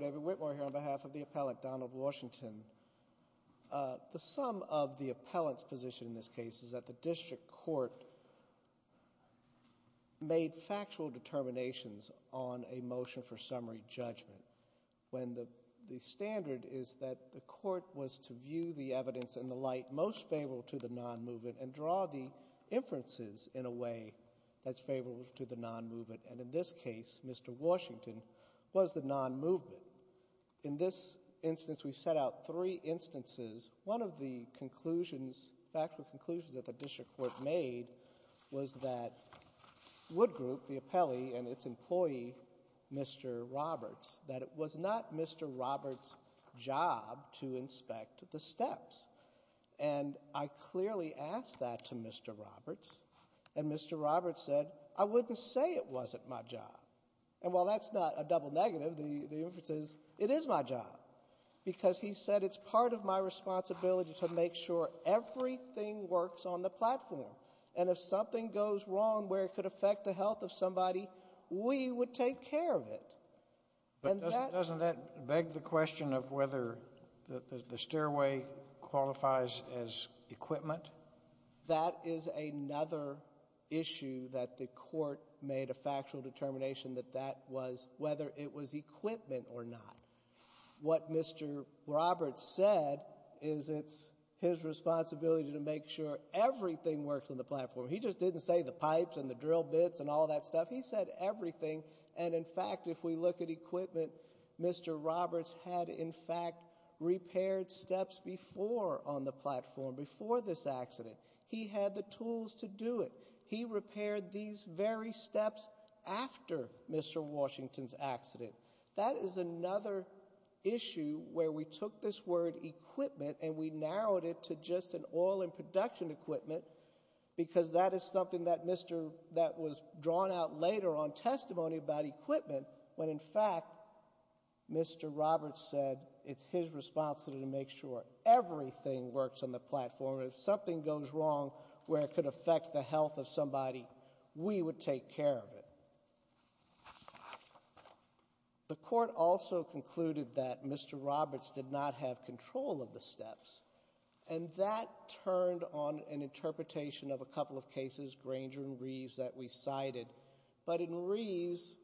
David Whitmore on behalf of the appellant, Donald Washington. The sum of the appellant's position in this case is that the district court made factual determinations on a motion for summary judgment, when the standard is that the court was to view the evidence in the light most favorable to the non-movement and draw the inferences in a way that's favorable to the non-movement, and in this case, Mr. Washington was the non-movement. In this instance, we set out three instances. One of the factual conclusions that the district court made was that Wood Group, the appellee, and its employee, Mr. Roberts, that it was not Mr. Roberts' job to inspect the steps, and I clearly asked that to Mr. Roberts, and Mr. Roberts said, I wouldn't say it wasn't my job. And while that's not a double negative, the inference is, it is my job, because he said it's part of my responsibility to make sure everything works on the platform, and if something goes wrong where it could affect the health of somebody, we would take care of it. Doesn't that beg the question of whether the stairway qualifies as equipment? But that is another issue that the court made a factual determination that that was whether it was equipment or not. What Mr. Roberts said is it's his responsibility to make sure everything works on the platform. He just didn't say the pipes and the drill bits and all that stuff. He said everything, and in fact, if we look at equipment, Mr. Roberts had, in fact, repaired steps before on the platform, before this accident. He had the tools to do it. He repaired these very steps after Mr. Washington's accident. That is another issue where we took this word equipment and we narrowed it to just an oil and production equipment, because that is something that was drawn out later on testimony about equipment when, in fact, Mr. Roberts said it's his responsibility to make sure everything works on the platform, and if something goes wrong where it could affect the health of somebody, we would take care of it. The court also concluded that Mr. Roberts did not have control of the steps, and that turned on an interpretation of a couple of cases, Granger and Reeves, that we cited. But in Reeves,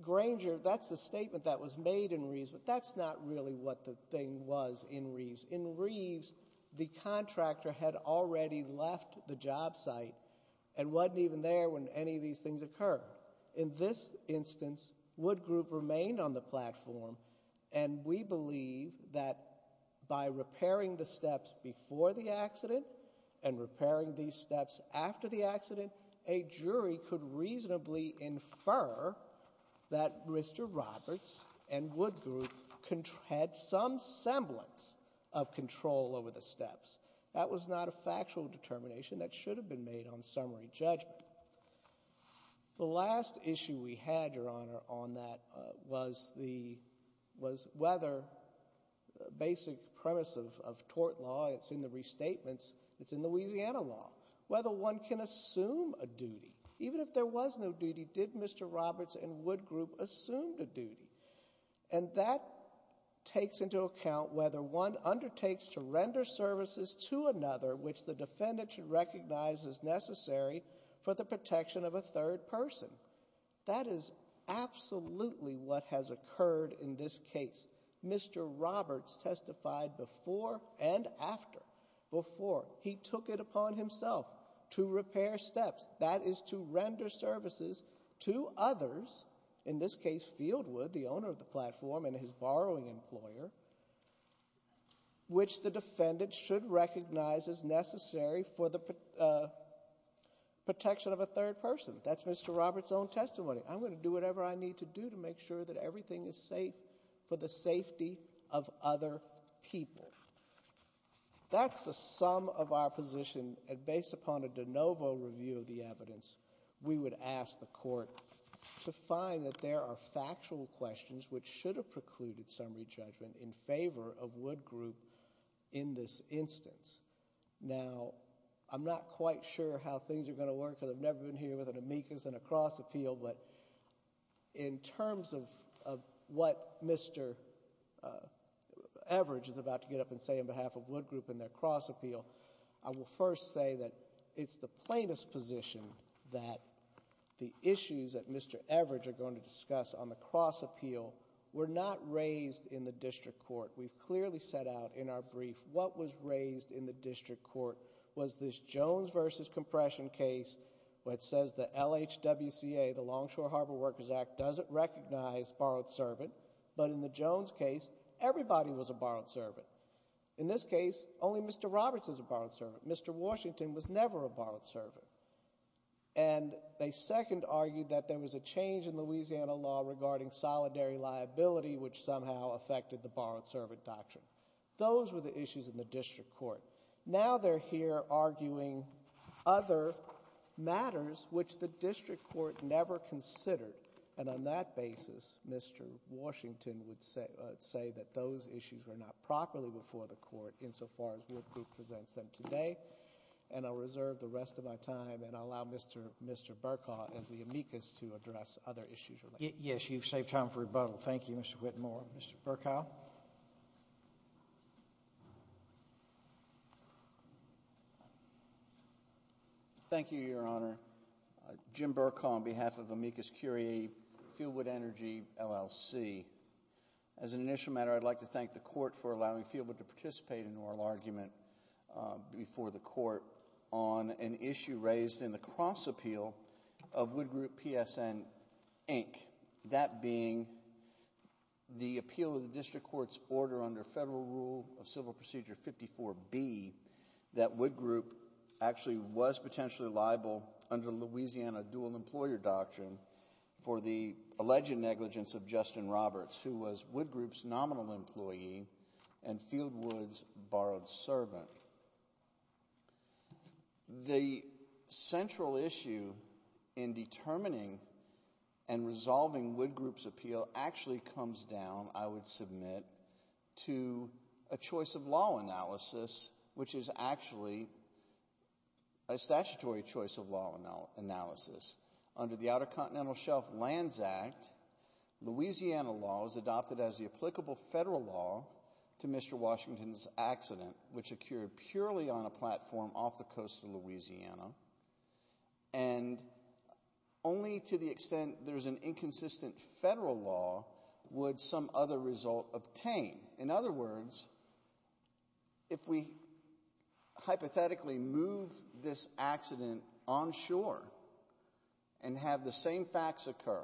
Granger, that's the statement that was made in Reeves, but that's not really what the thing was in Reeves. In Reeves, the contractor had already left the job site and wasn't even there when any of these things occurred. In this instance, Wood Group remained on the platform, and we believe that by repairing the steps before the accident and repairing these steps after the accident, a jury could reasonably infer that Mr. Roberts and Wood Group had some semblance of control over the steps. That was not a factual determination. That should have been made on summary judgment. The last issue we had, Your Honor, on that was the, was whether basic premise of tort law, it's in the restatements. It's in Louisiana law, whether one can assume a duty. Even if there was no duty, did Mr. Roberts and Wood Group assume the duty? And that takes into account whether one undertakes to render services to another, which the defendant should recognize as necessary for the protection of a third person. That is absolutely what has occurred in this case. Mr. Roberts testified before and after, before. He took it upon himself to repair steps. That is to render services to others, in this case Fieldwood, the owner of the platform and his borrowing employer, which the defendant should recognize as necessary for the protection of a third person. That's Mr. Roberts' own testimony. I'm going to do whatever I need to do to make sure that everything is safe for the safety of other people. That's the sum of our position, and based upon a de novo review of the evidence, we would ask the court to find that there are factual questions, which should have precluded summary judgment in favor of Wood Group in this instance. Now, I'm not quite sure how things are going to work, because I've never been here with an amicus and a cross appeal, but in terms of what Mr. Everidge is about to get up and say on behalf of Wood Group in their cross appeal, I will first say that it's the plaintiff's position that the issues that Mr. Everidge are going to discuss on the cross appeal were not raised in the district court. We've clearly set out in our brief what was raised in the district court was this Jones versus compression case. Which says the LHWCA, the Longshore Harbor Workers Act, doesn't recognize borrowed servant. But in the Jones case, everybody was a borrowed servant. In this case, only Mr. Roberts is a borrowed servant. Mr. Washington was never a borrowed servant. And they second argued that there was a change in Louisiana law regarding solidary liability which somehow affected the borrowed servant doctrine. Those were the issues in the district court. Now they're here arguing other matters which the district court never considered. And on that basis, Mr. Washington would say that those issues were not properly before the court insofar as Wood Group presents them today. And I'll reserve the rest of my time and allow Mr. Burkow as the amicus to address other issues. Yes, you've saved time for rebuttal. Thank you, Mr. Whitmore. Mr. Burkow? Thank you, Your Honor. Jim Burkow on behalf of amicus curiae, Fieldwood Energy LLC. As an initial matter, I'd like to thank the court for allowing Fieldwood to participate in oral argument before the court on an issue raised in the cross appeal of Wood Group PSN Inc. That being the appeal of the district court's order under federal rule of civil procedure 54B, that Wood Group actually was potentially liable under Louisiana dual employer doctrine for the alleged negligence of Justin Roberts, who was Wood Group's nominal employee and Fieldwood's borrowed servant. The central issue in determining and resolving Wood Group's appeal actually comes down, I would submit, to a choice of law analysis, which is actually a statutory choice of law analysis. Under the Outer Continental Shelf Lands Act, Louisiana law is adopted as the applicable federal law to Mr. Washington's accident, which occurred purely on a platform off the coast of Louisiana. And only to the extent there's an inconsistent federal law would some other result obtain. In other words, if we hypothetically move this accident on shore and have the same facts occur,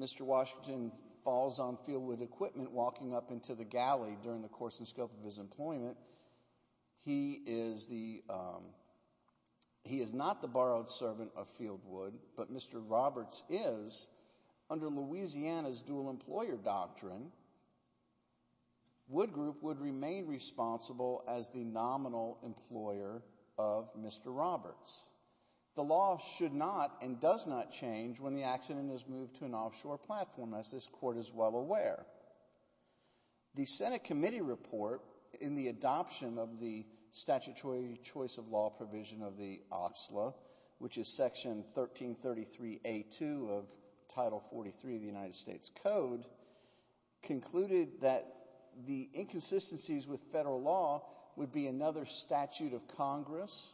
Mr. Washington falls on Fieldwood equipment, walking up into the galley during the course and scope of his employment. He is not the borrowed servant of Fieldwood, but Mr. Roberts is, under Louisiana's dual employer doctrine, Wood Group would remain responsible as the nominal employer of Mr. Roberts. The law should not and does not change when the accident is moved to an offshore platform, as this court is well aware. The Senate committee report in the adoption of the statutory choice of law provision of the OSLA, which is section 1333A2 of Title 43 of the United States Code, concluded that the inconsistencies with federal law would be another statute of Congress,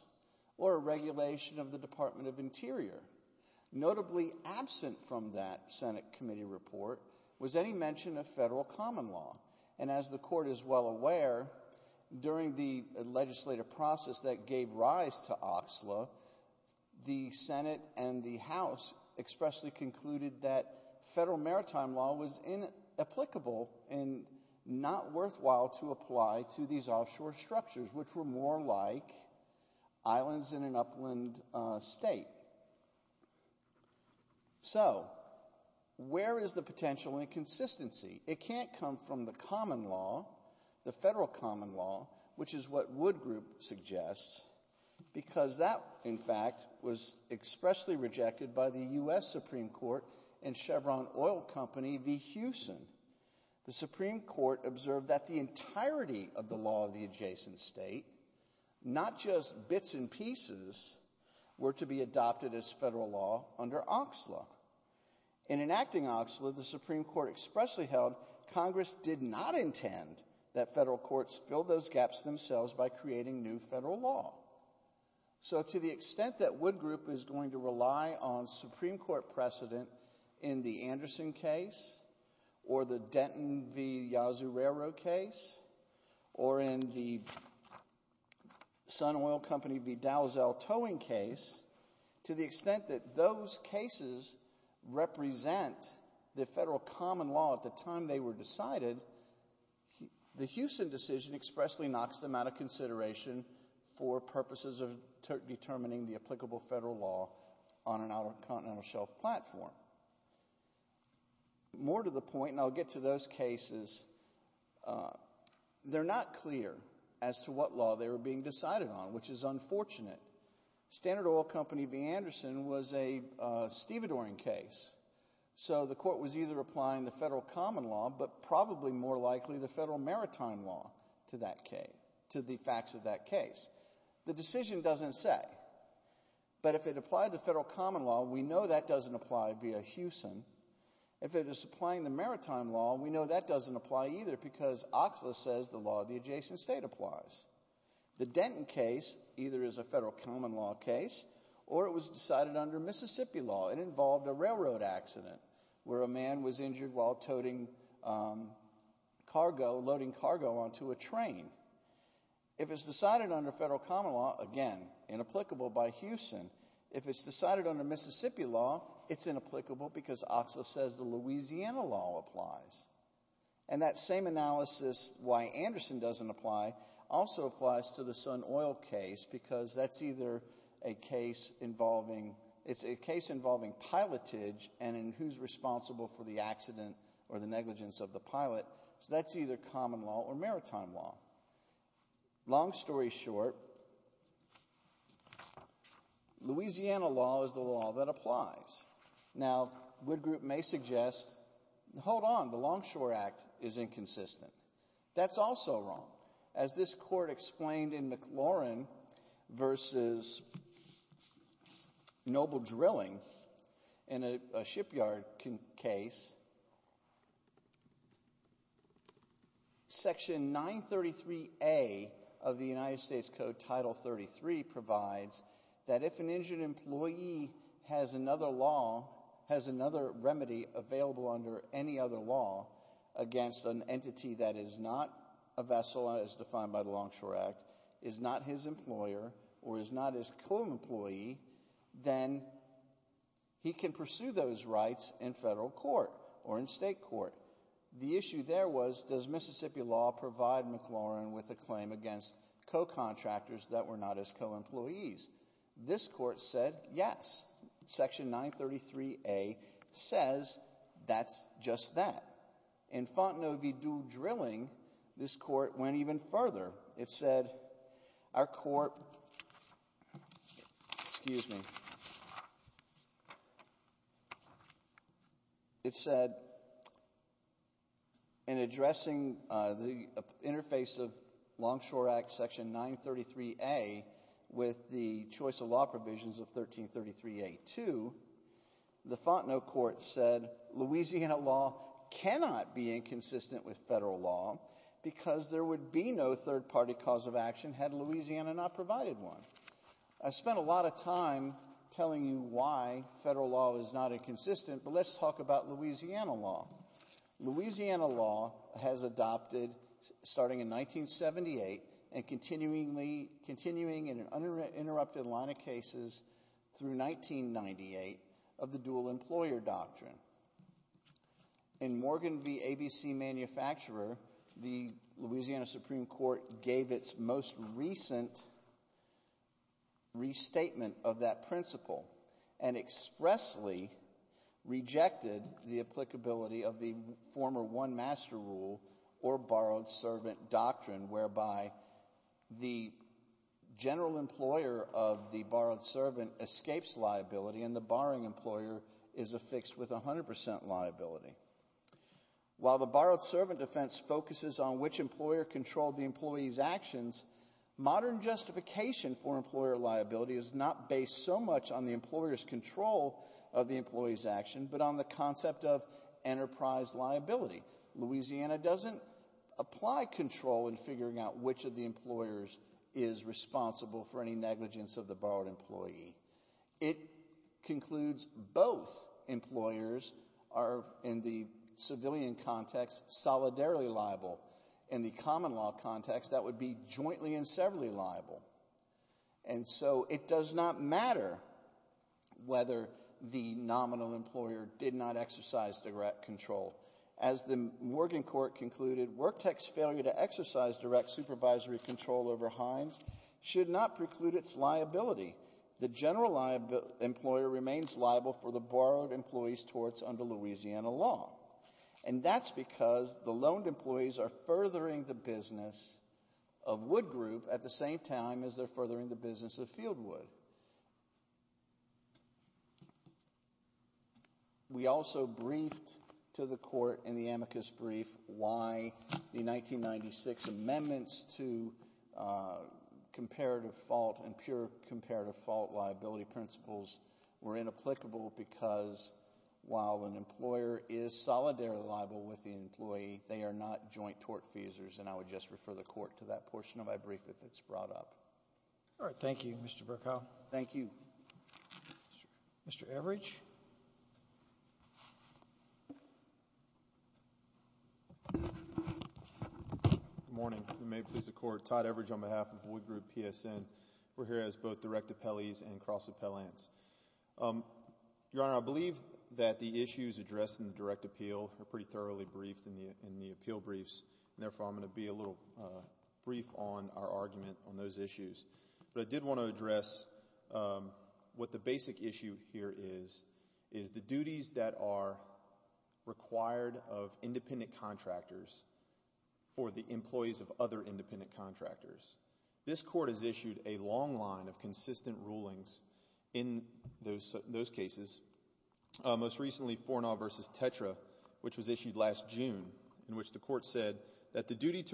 or a regulation of the Department of Interior. Notably absent from that Senate committee report was any mention of federal common law. And as the court is well aware, during the legislative process that gave rise to OSLA, the Senate and the House expressly concluded that federal maritime law was a violation of the law of the adjacent islands in an upland state. So, where is the potential inconsistency? It can't come from the common law, the federal common law, which is what Wood Group suggests, because that, in fact, was expressly rejected by the US Supreme Court and Chevron oil company, the Hewson. The Supreme Court observed that the entirety of the law of the adjacent state, not just bits and pieces, were to be adopted as federal law under OSLA. In enacting OSLA, the Supreme Court expressly held Congress did not intend that federal courts fill those gaps themselves by creating new federal law. So, to the extent that Wood Group is going to rely on Supreme Court precedent in the Anderson case, or the Denton v. Yazoo Railroad case, or in the Sun Oil Company v. Dowzel towing case, to the extent that those cases represent the federal common law at the time they were decided, the Hewson decision expressly knocks them out of consideration for purposes of determining the applicable federal law on an out-on-continental-shelf platform. More to the point, and I'll get to those cases, they're not clear as to what law they were being decided on, which is unfortunate. Standard Oil Company v. Anderson was a stevedoring case, so the court was either applying the federal common law, but probably more likely the federal maritime law to that case, to the facts of that case. The decision doesn't say, but if it applied the federal common law, we know that doesn't apply via Hewson. If it is applying the maritime law, we know that doesn't apply either, because Oxley says the law of the adjacent state applies. The Denton case either is a federal common law case, or it was decided under Mississippi law. It involved a railroad accident, where a man was injured while loading cargo onto a train. If it's decided under federal common law, again, inapplicable by Hewson. If it's decided under Mississippi law, it's inapplicable because Oxley says the Louisiana law applies. And that same analysis, why Anderson doesn't apply, also applies to the Sun Oil case, because that's either a case involving, it's a case involving pilotage and who's responsible for the accident or the negligence of the pilot, so that's either common law or maritime law. Long story short, Louisiana law is the law that applies. Now, Wood Group may suggest, hold on, the Longshore Act is inconsistent. That's also wrong. As this court explained in McLaurin versus Noble Drilling, in a shipyard case, Section 933A of the United States Code, Title 33, provides that if an injured employee has another law, has another remedy available under any other law against an entity that is not a vessel, as defined by the Longshore Act, is not his employer or is not his co-employee, then he can pursue those rights in federal court or in state court. The issue there was, does Mississippi law provide McLaurin with a claim against co-contractors that were not his co-employees? This court said yes. Section 933A says that's just that. In Fontenot v. Drilling, this court went even further. It said, our court, excuse me, it said, in addressing the interface of Longshore Act Section 933A with the choice of law provisions of 1333A-2, the Fontenot court said Louisiana law cannot be inconsistent with federal law because there would be no third-party cause of action had Louisiana not provided one. I spent a lot of time telling you why federal law is not inconsistent, but let's talk about Louisiana law. Louisiana law has adopted, starting in 1978, and continuing in an interrupted line of cases through 1998, of the dual employer doctrine. In Morgan v. ABC Manufacturer, the Louisiana Supreme Court gave its most recent restatement of that principle and expressly rejected the applicability of the former one-master rule or borrowed-servant doctrine, whereby the general employer of the borrowed servant escapes liability and the borrowing employer is affixed with 100% liability. While the borrowed-servant defense focuses on which employer controlled the employee's actions, modern justification for employer liability is not based so much on the employer's control of the employee's action, but on the concept of enterprise liability. Louisiana doesn't apply control in figuring out which of the employers is responsible for any negligence of the borrowed employee. It concludes both employers are, in the civilian context, solidarily liable. In the common law context, that would be jointly and severally liable. And so it does not matter whether the nominal employer did not exercise direct control. As the Morgan Court concluded, Worktec's failure to exercise direct supervisory control over Heinz should not preclude its liability. The general employer remains liable for the borrowed employee's torts under Louisiana law. And that's because the loaned employees are furthering the business of Wood Group at the same time as they're furthering the business of Fieldwood. We also briefed to the court in the amicus brief why the 1996 amendments to comparative fault and pure comparative fault liability principles were inapplicable because while an employer is solidarily liable with the employee, they are not joint tort feasors. And I would just refer the court to that portion of my brief if it's brought up. All right. Thank you, Mr. Burkow. Thank you. Mr. Everidge. Good morning. And may it please the court, Todd Everidge on behalf of Wood Group PSN. We're here as both direct appellees and cross appellants. Your Honor, I believe that the issues addressed in the direct appeal are pretty thoroughly briefed in the appeal briefs. And therefore, I'm going to be a little brief on our argument on those issues. But I did want to address what the basic issue here is, is the duties that are required of independent contractors for the employees of other independent contractors. This court has issued a long line of consistent rulings in those cases. Most recently, Fournall versus Tetra, which was issued last June, in which the court said that the duty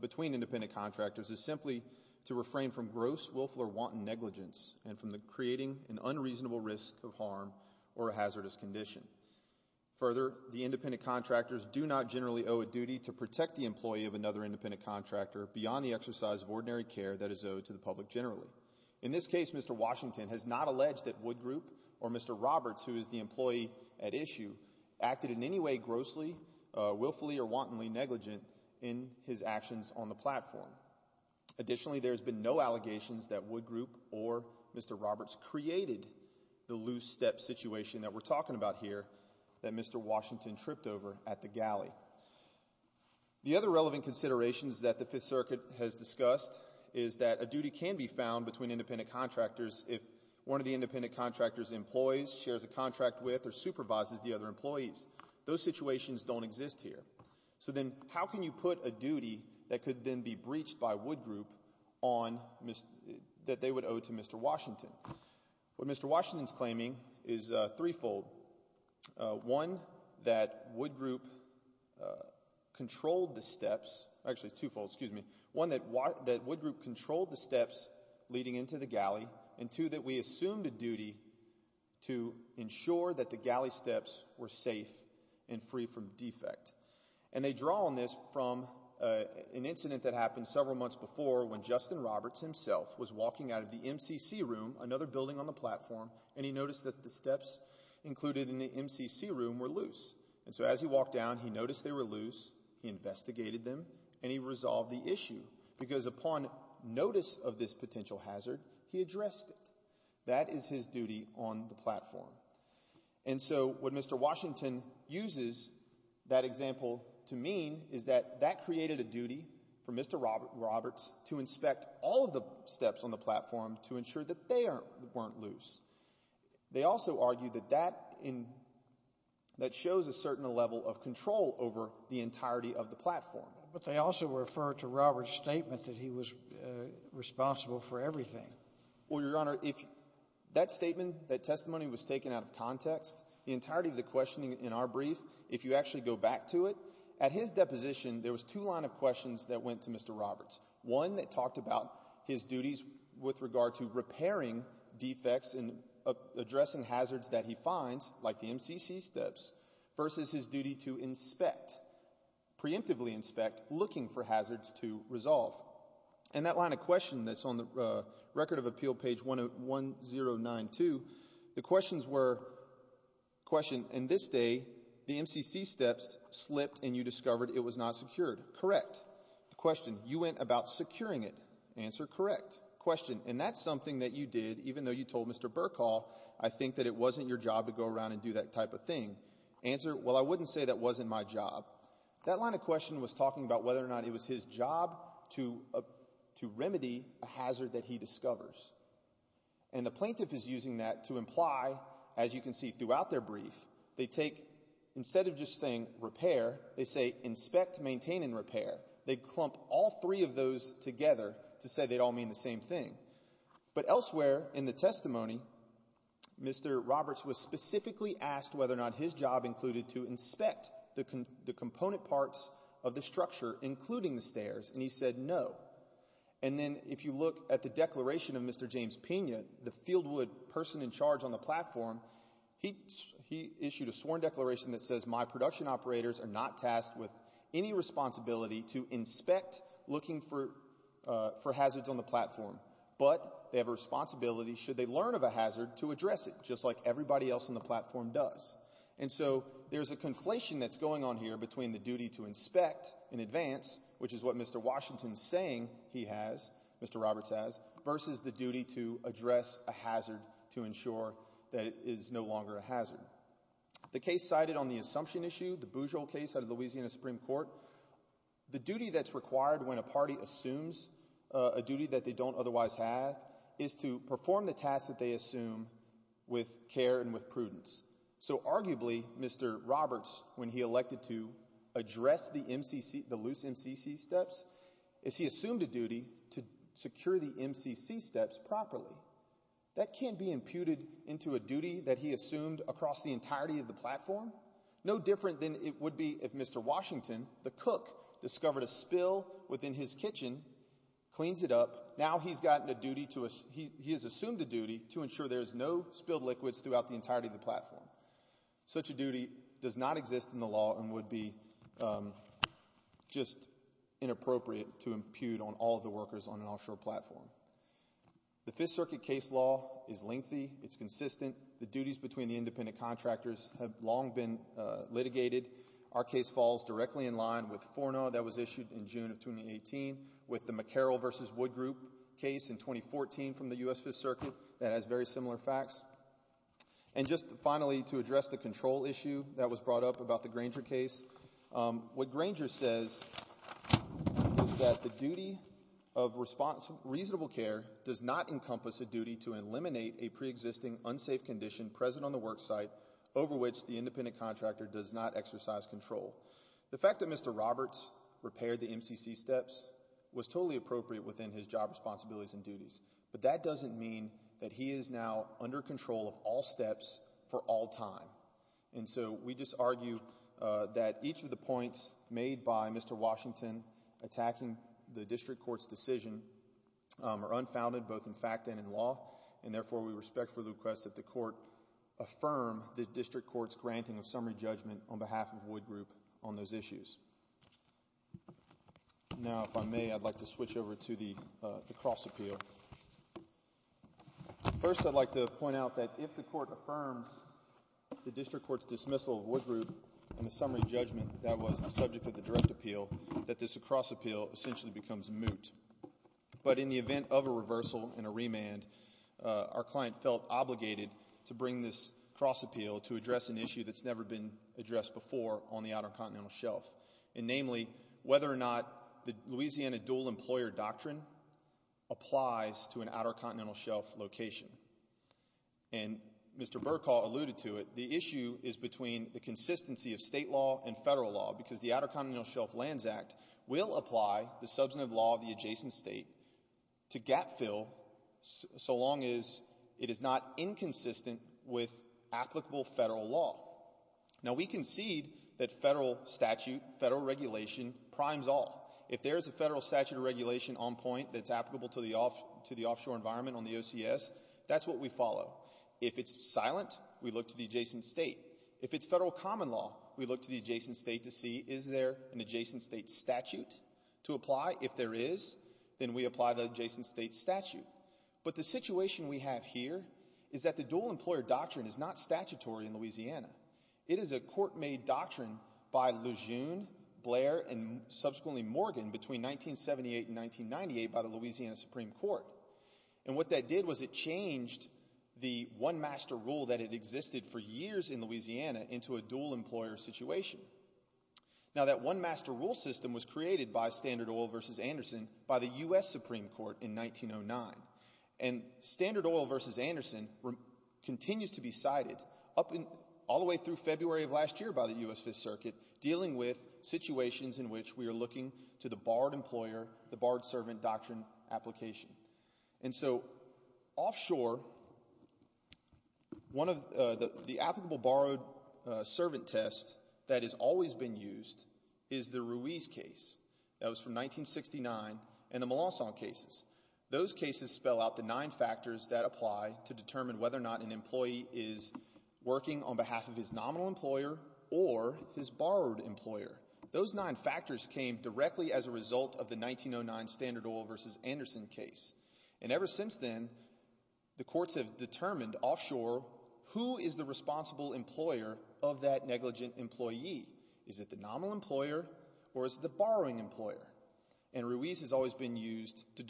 between independent contractors is simply to refrain from gross, willful, or wanton negligence and from creating an unreasonable risk of harm or a hazardous condition. Further, the independent contractors do not generally owe a duty to protect the employee of another independent contractor beyond the exercise of ordinary care that is owed to the public generally. In this case, Mr. Washington has not alleged that Wood Group or Mr. Roberts, who is the employee at issue, acted in any way grossly, willfully, or wantonly negligent in his actions on the platform. Additionally, there's been no allegations that Wood Group or Mr. Roberts created the loose step situation that we're talking about here that Mr. Washington tripped over at the galley. The other relevant considerations that the Fifth Circuit has discussed is that a duty can be found between independent contractors if one of the independent contractor's employees shares a contract with or supervises the other employee. Those situations don't exist here. So then, how can you put a duty that could then be breached by Wood Group that they would owe to Mr. Washington? What Mr. Washington is claiming is threefold. One, that Wood Group controlled the steps, actually twofold, excuse me. One, that Wood Group controlled the steps leading into the galley. And two, that we assumed a duty to ensure that the galley steps were safe and free from defect. And they draw on this from an incident that happened several months before when Justin Roberts himself was walking out of the MCC room, another building on the platform, and he noticed that the steps included in the MCC room were loose. And so as he walked down, he noticed they were loose, he investigated them, and he resolved the issue. Because upon notice of this potential hazard, he addressed it. That is his duty on the platform. And so what Mr. Washington uses that example to mean is that that created a duty for Mr. Roberts to inspect all of the steps on the platform to ensure that they weren't loose. They also argue that that shows a certain level of control over the entirety of the platform. But they also refer to Roberts' statement that he was responsible for everything. Well, Your Honor, if that statement, that testimony was taken out of context, the entirety of the questioning in our brief, if you actually go back to it, at his deposition, there was two line of questions that went to Mr. Roberts. One that talked about his duties with regard to repairing defects and addressing hazards that he finds, like the MCC steps, versus his duty to inspect, preemptively inspect, looking for hazards to resolve. And that line of question that's on the Record of Appeal, page 1092, the questions were, question, in this day, the MCC steps slipped and you discovered it was not secured. Correct. The question, you went about securing it. Answer, correct. Question, and that's something that you did, even though you told Mr. Burkhall, I think that it wasn't your job to go around and do that type of thing. Answer, well, I wouldn't say that wasn't my job. That line of question was talking about whether or not it was his job to remedy a hazard that he discovers. And the plaintiff is using that to imply, as you can see throughout their brief, they take, instead of just saying repair, they say inspect, maintain, and repair. They clump all three of those together to say they'd all mean the same thing. But elsewhere in the testimony, Mr. Roberts was specifically asked whether or not his job included to inspect the component parts of the structure, including the stairs, and he said no. And then if you look at the declaration of Mr. James Pena, the Fieldwood person in charge on the platform, he issued a sworn declaration that says my production operators are not tasked with any responsibility to inspect looking for hazards on the platform, but they have a responsibility, should they learn of a hazard, to address it, just like everybody else on the platform does. And so there's a conflation that's going on here between the duty to inspect in advance, which is what Mr. Washington's saying he has, Mr. Roberts has, versus the duty to address a hazard to ensure that it is no longer a hazard. The case cited on the assumption issue, the Boozle case out of Louisiana Supreme Court, the duty that's required when a party assumes a duty that they don't otherwise have is to perform the tasks that they assume with care and with prudence. So arguably, Mr. Roberts, when he elected to address the MCC, the loose MCC steps, is he assumed a duty to secure the MCC steps properly. That can't be imputed into a duty that he assumed across the entirety of the platform. No different than it would be if Mr. Washington, the cook, discovered a spill within his kitchen, cleans it up. Now he's gotten a duty to, he has such a duty does not exist in the law and would be just inappropriate to impute on all the workers on an offshore platform. The Fifth Circuit case law is lengthy. It's consistent. The duties between the independent contractors have long been litigated. Our case falls directly in line with Forno that was issued in June of 2018 with the McCarroll versus Wood Group case in 2014 from the U.S. Fifth Circuit that has very similar facts. And just finally, to address the control issue that was brought up about the Granger case, what Granger says is that the duty of reasonable care does not encompass a duty to eliminate a pre-existing unsafe condition present on the work site over which the independent contractor does not exercise control. The fact that Mr. Roberts repaired the MCC steps was totally appropriate within his job responsibilities and duties, but that doesn't mean that he is now under control of all steps for all time. And so we just argue that each of the points made by Mr. Washington attacking the district court's decision are unfounded both in fact and in law, and therefore we respect for the request that the court affirm the district court's granting of summary judgment on behalf of Wood Group on those issues. Now if I may, I'd like to switch over to the cross appeal. First, I'd like to point out that if the court affirms the district court's dismissal of Wood Group and the summary judgment that was the subject of the direct appeal, that this cross appeal essentially becomes moot. But in the event of a reversal and a remand, our client felt obligated to bring this cross appeal to address an issue that's never been addressed before on the Outer Continental Shelf location. And Mr. Burkall alluded to it, the issue is between the consistency of state law and federal law because the Outer Continental Shelf Lands Act will apply the substantive law of the adjacent state to gap fill so long as it is not inconsistent with applicable federal law. Now we concede that federal statute, federal regulation, primes all. If there is a environment on the OCS, that's what we follow. If it's silent, we look to the adjacent state. If it's federal common law, we look to the adjacent state to see is there an adjacent state statute to apply. If there is, then we apply the adjacent state statute. But the situation we have here is that the dual employer doctrine is not statutory in Louisiana. It is a court made doctrine by Lejeune, Blair, and subsequently Morgan between 1978 and 1998 by the Louisiana Supreme Court. And what that did was it changed the one master rule that had existed for years in Louisiana into a dual employer situation. Now that one master rule system was created by Standard Oil versus Anderson by the U.S. Supreme Court in 1909. And Standard Oil versus Anderson continues to be cited all the way through February of last year by the U.S. Fifth Circuit dealing with situations in which we are looking to the borrowed employer, the borrowed servant doctrine application. And so offshore, one of the applicable borrowed servant tests that has always been used is the Ruiz case. That was from 1969 and the Molosson cases. Those cases spell out the nine factors that apply to determine whether or not an employee is working on behalf of his nominal employer or his borrowed employer. Those nine factors came directly as a result of the 1909 Standard Oil versus Anderson case. And ever since then, the courts have determined offshore who is the responsible employer of that negligent employee. Is it the nominal employer or is it the borrowing employer? And Ruiz has always been used to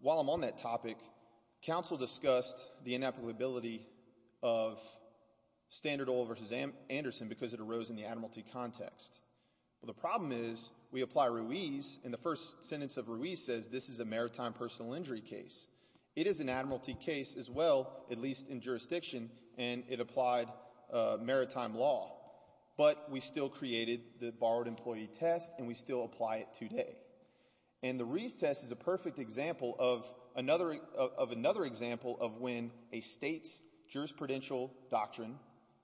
While I'm on that topic, counsel discussed the inapplicability of Standard Oil versus Anderson because it arose in the admiralty context. Well, the problem is we apply Ruiz and the first sentence of Ruiz says this is a maritime personal injury case. It is an admiralty case as well, at least in jurisdiction, and it applied maritime law. But we still created the borrowed employee test and we still apply it today. And the Ruiz test is a perfect example of another example of when a state's jurisprudential doctrine,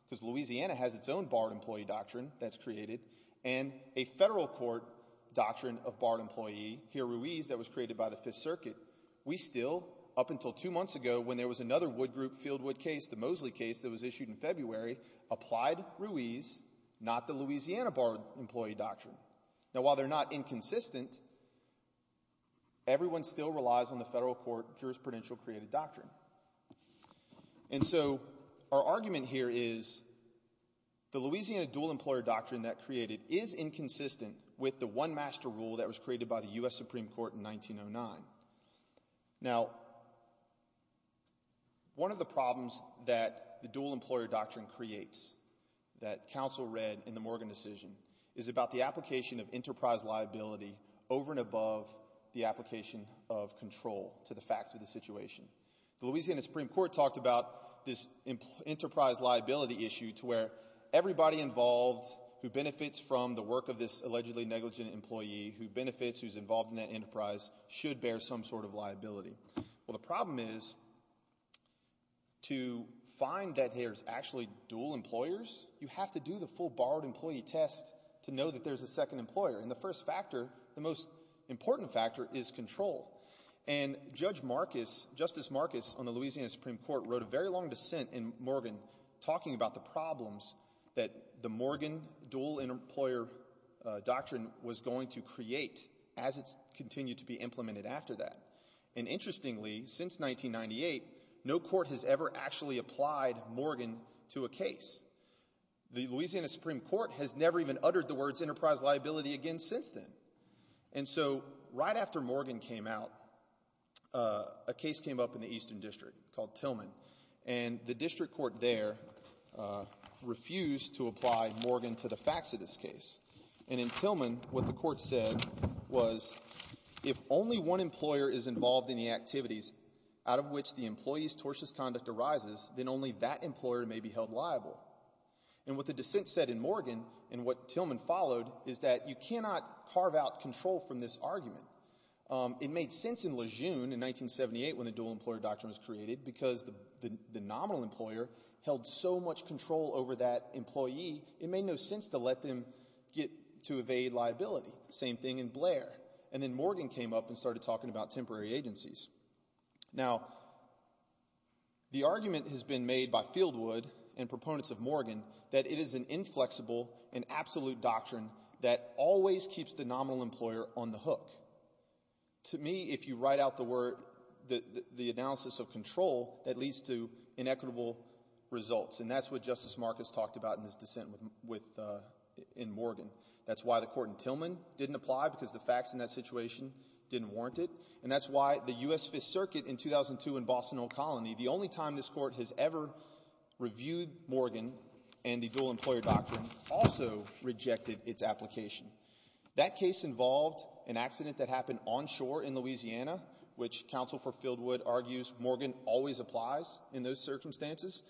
because Louisiana has its own borrowed employee doctrine that's created, and a federal court doctrine of borrowed employee, here Ruiz, that was created by the Fifth Circuit. We still, up until two months ago, when there was another Wood Group Fieldwood case, the Mosley case that was issued in February, applied Ruiz, not the Louisiana borrowed employee doctrine. Now, while they're not inconsistent, everyone still relies on the federal court jurisprudential created doctrine. And so our argument here is the Louisiana dual employer doctrine that created is inconsistent with the one master rule that was created by the U.S. Supreme Court in 1909. Now, one of the problems that the dual employer doctrine creates that counsel read in the Morgan decision is about the application of enterprise liability over and above the application of control to the facts of the situation. The Louisiana Supreme Court talked about this enterprise liability issue to where everybody involved who benefits from the work of this allegedly negligent employee who benefits who's involved in that enterprise should bear some sort of liability. Well, the problem is to find that there's actually dual employers, you have to do the full borrowed employee test to know that there's a second employer. And the first factor, the most important factor is control. And Judge Marcus, Justice Marcus on the Louisiana Supreme Court wrote a very long dissent in Morgan talking about the problems that the Morgan dual employer doctrine was going to create as it continued to be implemented after that. And interestingly, since 1998, no court has ever actually applied Morgan to a case. The Louisiana Supreme Court has never even uttered the words enterprise liability again since then. And so, right after Morgan came out, a case came up in the Eastern District called Tillman. And the District Court there refused to apply Morgan to the facts of this case. And in Tillman, what the court said was, if only one employer is involved in the activities out of which the employee's tortious conduct arises, then only that employer may be held liable. And what the dissent said in Morgan and what Tillman followed is that you cannot carve out control from this argument. It made sense in Lejeune in 1978 when the dual employer doctrine was created because the nominal employer held so much control over that employee, it made no sense to let them get to evade liability. Same thing in Blair. And then Morgan came up and started talking about temporary agencies. Now, the argument has been made by Fieldwood and proponents of Morgan that it is an inflexible and absolute doctrine that always keeps the nominal employer on the hook. To me, if you write out the word, the analysis of control, that leads to inequitable results. And that's what Justice Marcus talked about in his dissent with in Morgan. That's why the court in Tillman didn't apply because the facts in that situation didn't warrant it. And that's why the U.S. Fifth Circuit in 2002 in Boston O'Connell, the only time this court has ever reviewed Morgan and the dual employer doctrine also rejected its application. That case involved an accident that happened onshore in Louisiana, which counsel for Fieldwood argues Morgan always applies in those circumstances.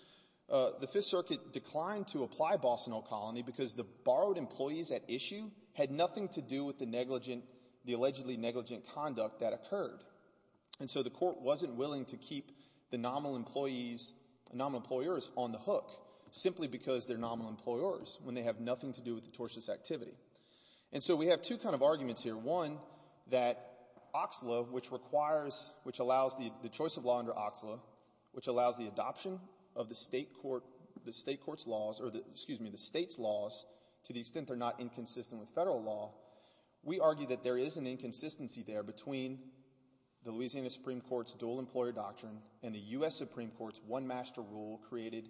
The Fifth Circuit declined to apply Boston O'Connell because the borrowed employees at issue had nothing to do with the negligent, the allegedly negligent conduct that occurred. And so the court wasn't willing to keep the nominal employees, nominal employers on the hook simply because they're nominal employers when they have nothing to do with the tortious activity. And so we have two kind of arguments here. One, that OXLA, which requires, which allows the choice of law under OXLA, which allows the adoption of the state court, the state court's laws or the, excuse me, the state's laws to the extent they're not inconsistent with federal law. We argue that there is an inconsistency there between the Louisiana Supreme Court's dual employer doctrine and the U.S. Supreme Court's one master rule created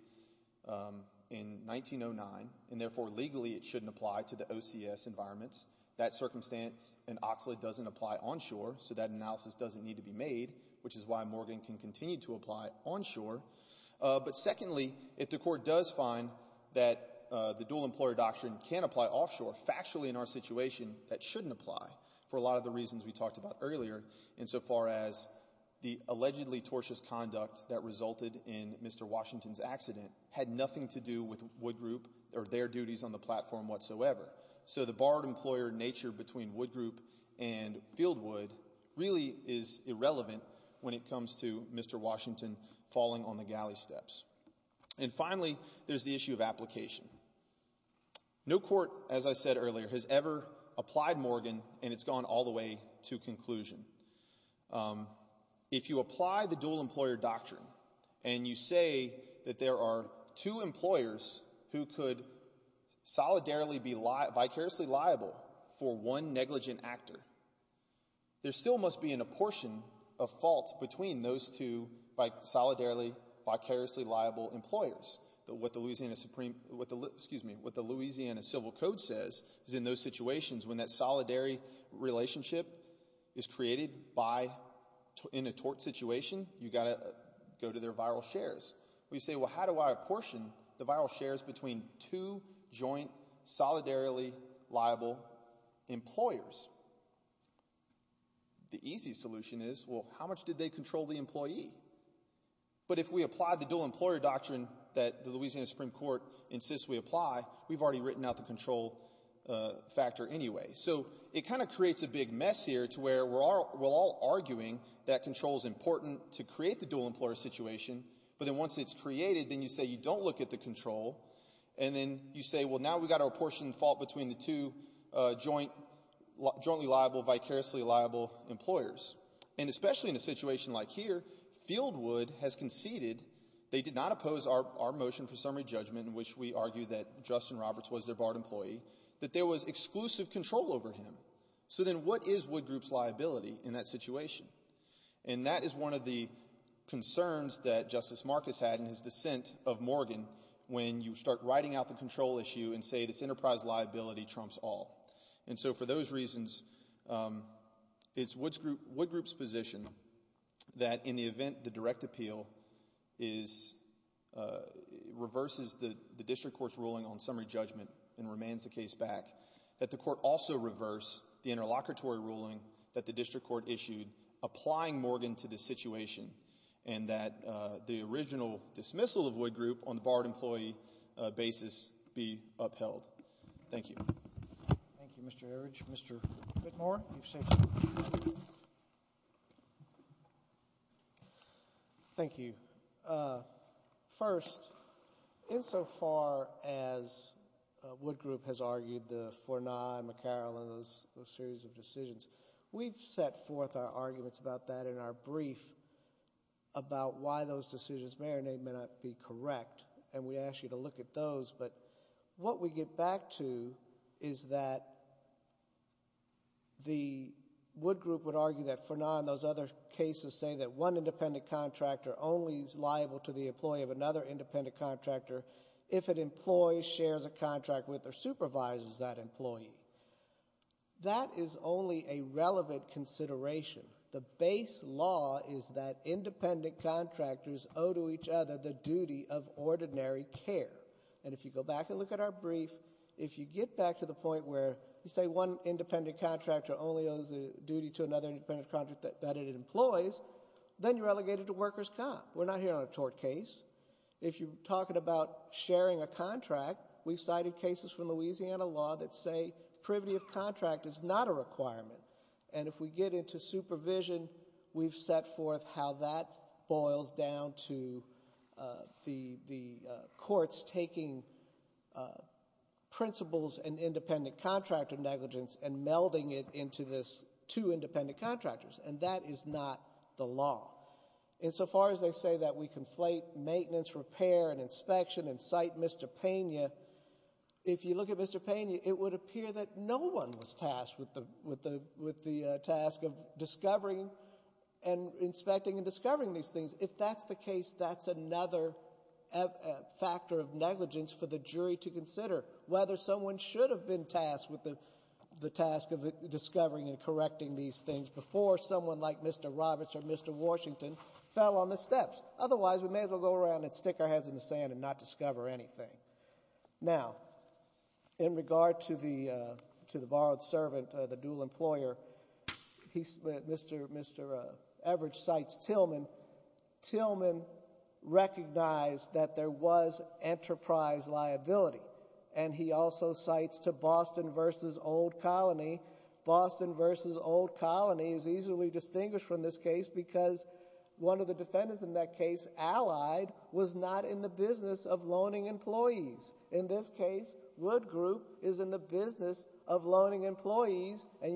in 1909 and therefore legally it shouldn't apply to the OCS environments. That circumstance in OXLA doesn't apply onshore, so that analysis doesn't need to be made, which is why Morgan can continue to apply onshore. But secondly, if the court does find that the dual employer doctrine can apply offshore, factually in our situation that shouldn't apply for a lot of the reasons we talked about earlier, insofar as the allegedly tortious conduct that resulted in Mr. Washington's accident had nothing to do with Wood Group or their duties on the platform whatsoever. So the barred employer nature between Wood Group and Fieldwood really is irrelevant when it comes to Mr. Washington falling on the galley steps. And finally, there's the issue of application. No court, as I said earlier, has ever applied Morgan and it's gone all the way to conclusion. If you apply the dual employer doctrine and you say that there are two employers who could solidarily be vicariously liable for one negligent actor, there still must be an apportion of fault between those two solidarily vicariously liable employers. What the Louisiana Supreme, what the, excuse me, what the Louisiana Civil Code says is in those situations when that solidary relationship is created by, in a tort situation, you got to go to their viral shares. We say, well, how do I apportion the viral shares between two joint solidarily liable employers? The easy solution is, well, how much did they control the employee? But if we apply the dual employer doctrine that the Louisiana Supreme Court insists we apply, we've already written out the control factor anyway. So it kind of creates a big mess here to where we're all arguing that control is important to create the dual employer situation, but then once it's created, then you say you don't look at the control and then you say, well, now we've got to apportion fault between the two jointly liable, vicariously liable employers. And especially in a situation like here, Fieldwood has conceded, they did not oppose our motion for summary judgment in which we argue that Justin Roberts was their barred employee, that there was exclusive control over him. So then what is Wood Group's liability in that situation? And that is one of the concerns that Justice Marcus had in his dissent of Morgan when you start writing out the control issue and say this enterprise liability trumps all. And so for those reasons, it's Wood Group's position that in the event the direct appeal reverses the district court's ruling on summary judgment and remains the case back, that the court also reverse the interlocutory ruling that the district court issued applying Morgan to this situation and that the original dismissal of Wood Group on the barred employee basis be upheld. Thank you. Thank you, Mr. Average. Mr. Whitmore. Thank you. First, insofar as Wood Group has argued the Fourni and McCarroll and those series of decisions, we've set forth our arguments about that in our brief about why those decisions may or may not be correct. And we ask you to look at those. But what we get back to is that the Wood Group would argue that Fourni and those other cases say that one independent contractor only is liable to the employee of another independent contractor if it employs, shares a contract with, or supervises that employee. That is only a relevant consideration. The base law is that independent contractors owe to each other the duty of ordinary care. And if you go back and look at our brief, if you get back to the point where you say one independent contractor only owes the duty to another independent contractor that it employs, then you're relegated to worker's comp. We're not here on a tort case. If you're talking about sharing a contract, we've cited cases from Louisiana law that say privity of contract is not a requirement. And if we get into supervision, we've set forth how that boils down to the courts taking principles and independent contractor negligence and melding it into this two independent contractors. And that is not the law. And so far as they say that we conflate maintenance, repair, and inspection and cite Mr. Pena, if you look at Mr. Pena, it would appear that no one was tasked with the task of discovering and inspecting and discovering these things. If that's the case, that's another factor of negligence for the jury to consider, whether someone should have been tasked with the task of discovering and correcting these things before someone like Mr. Roberts or Mr. Washington fell on the steps. Otherwise, we may as well go around and stick our heads in the sand and not discover anything. Now, in regard to the borrowed servant, the dual employer, Mr. Everidge cites Tillman. Tillman recognized that there was enterprise liability. And he also cites to Boston v. Old Colony. Boston v. Old Colony is easily distinguished from this case because one of the defendants in that case, Allied, was not in the business of loaning employees. And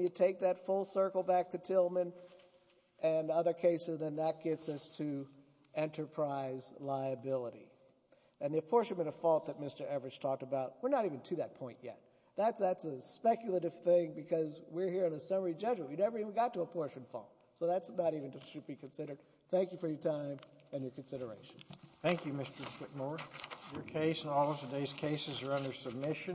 you take that full circle back to Tillman and other cases, and that gets us to enterprise liability. And the apportionment of fault that Mr. Everidge talked about, we're not even to that point yet. That's a speculative thing because we're here in a summary judgment. We never even got to apportionment of fault. So that's not even to be considered. Thank you for your time and your consideration. Thank you, Mr. McNair. Your case and all of today's cases are under submission.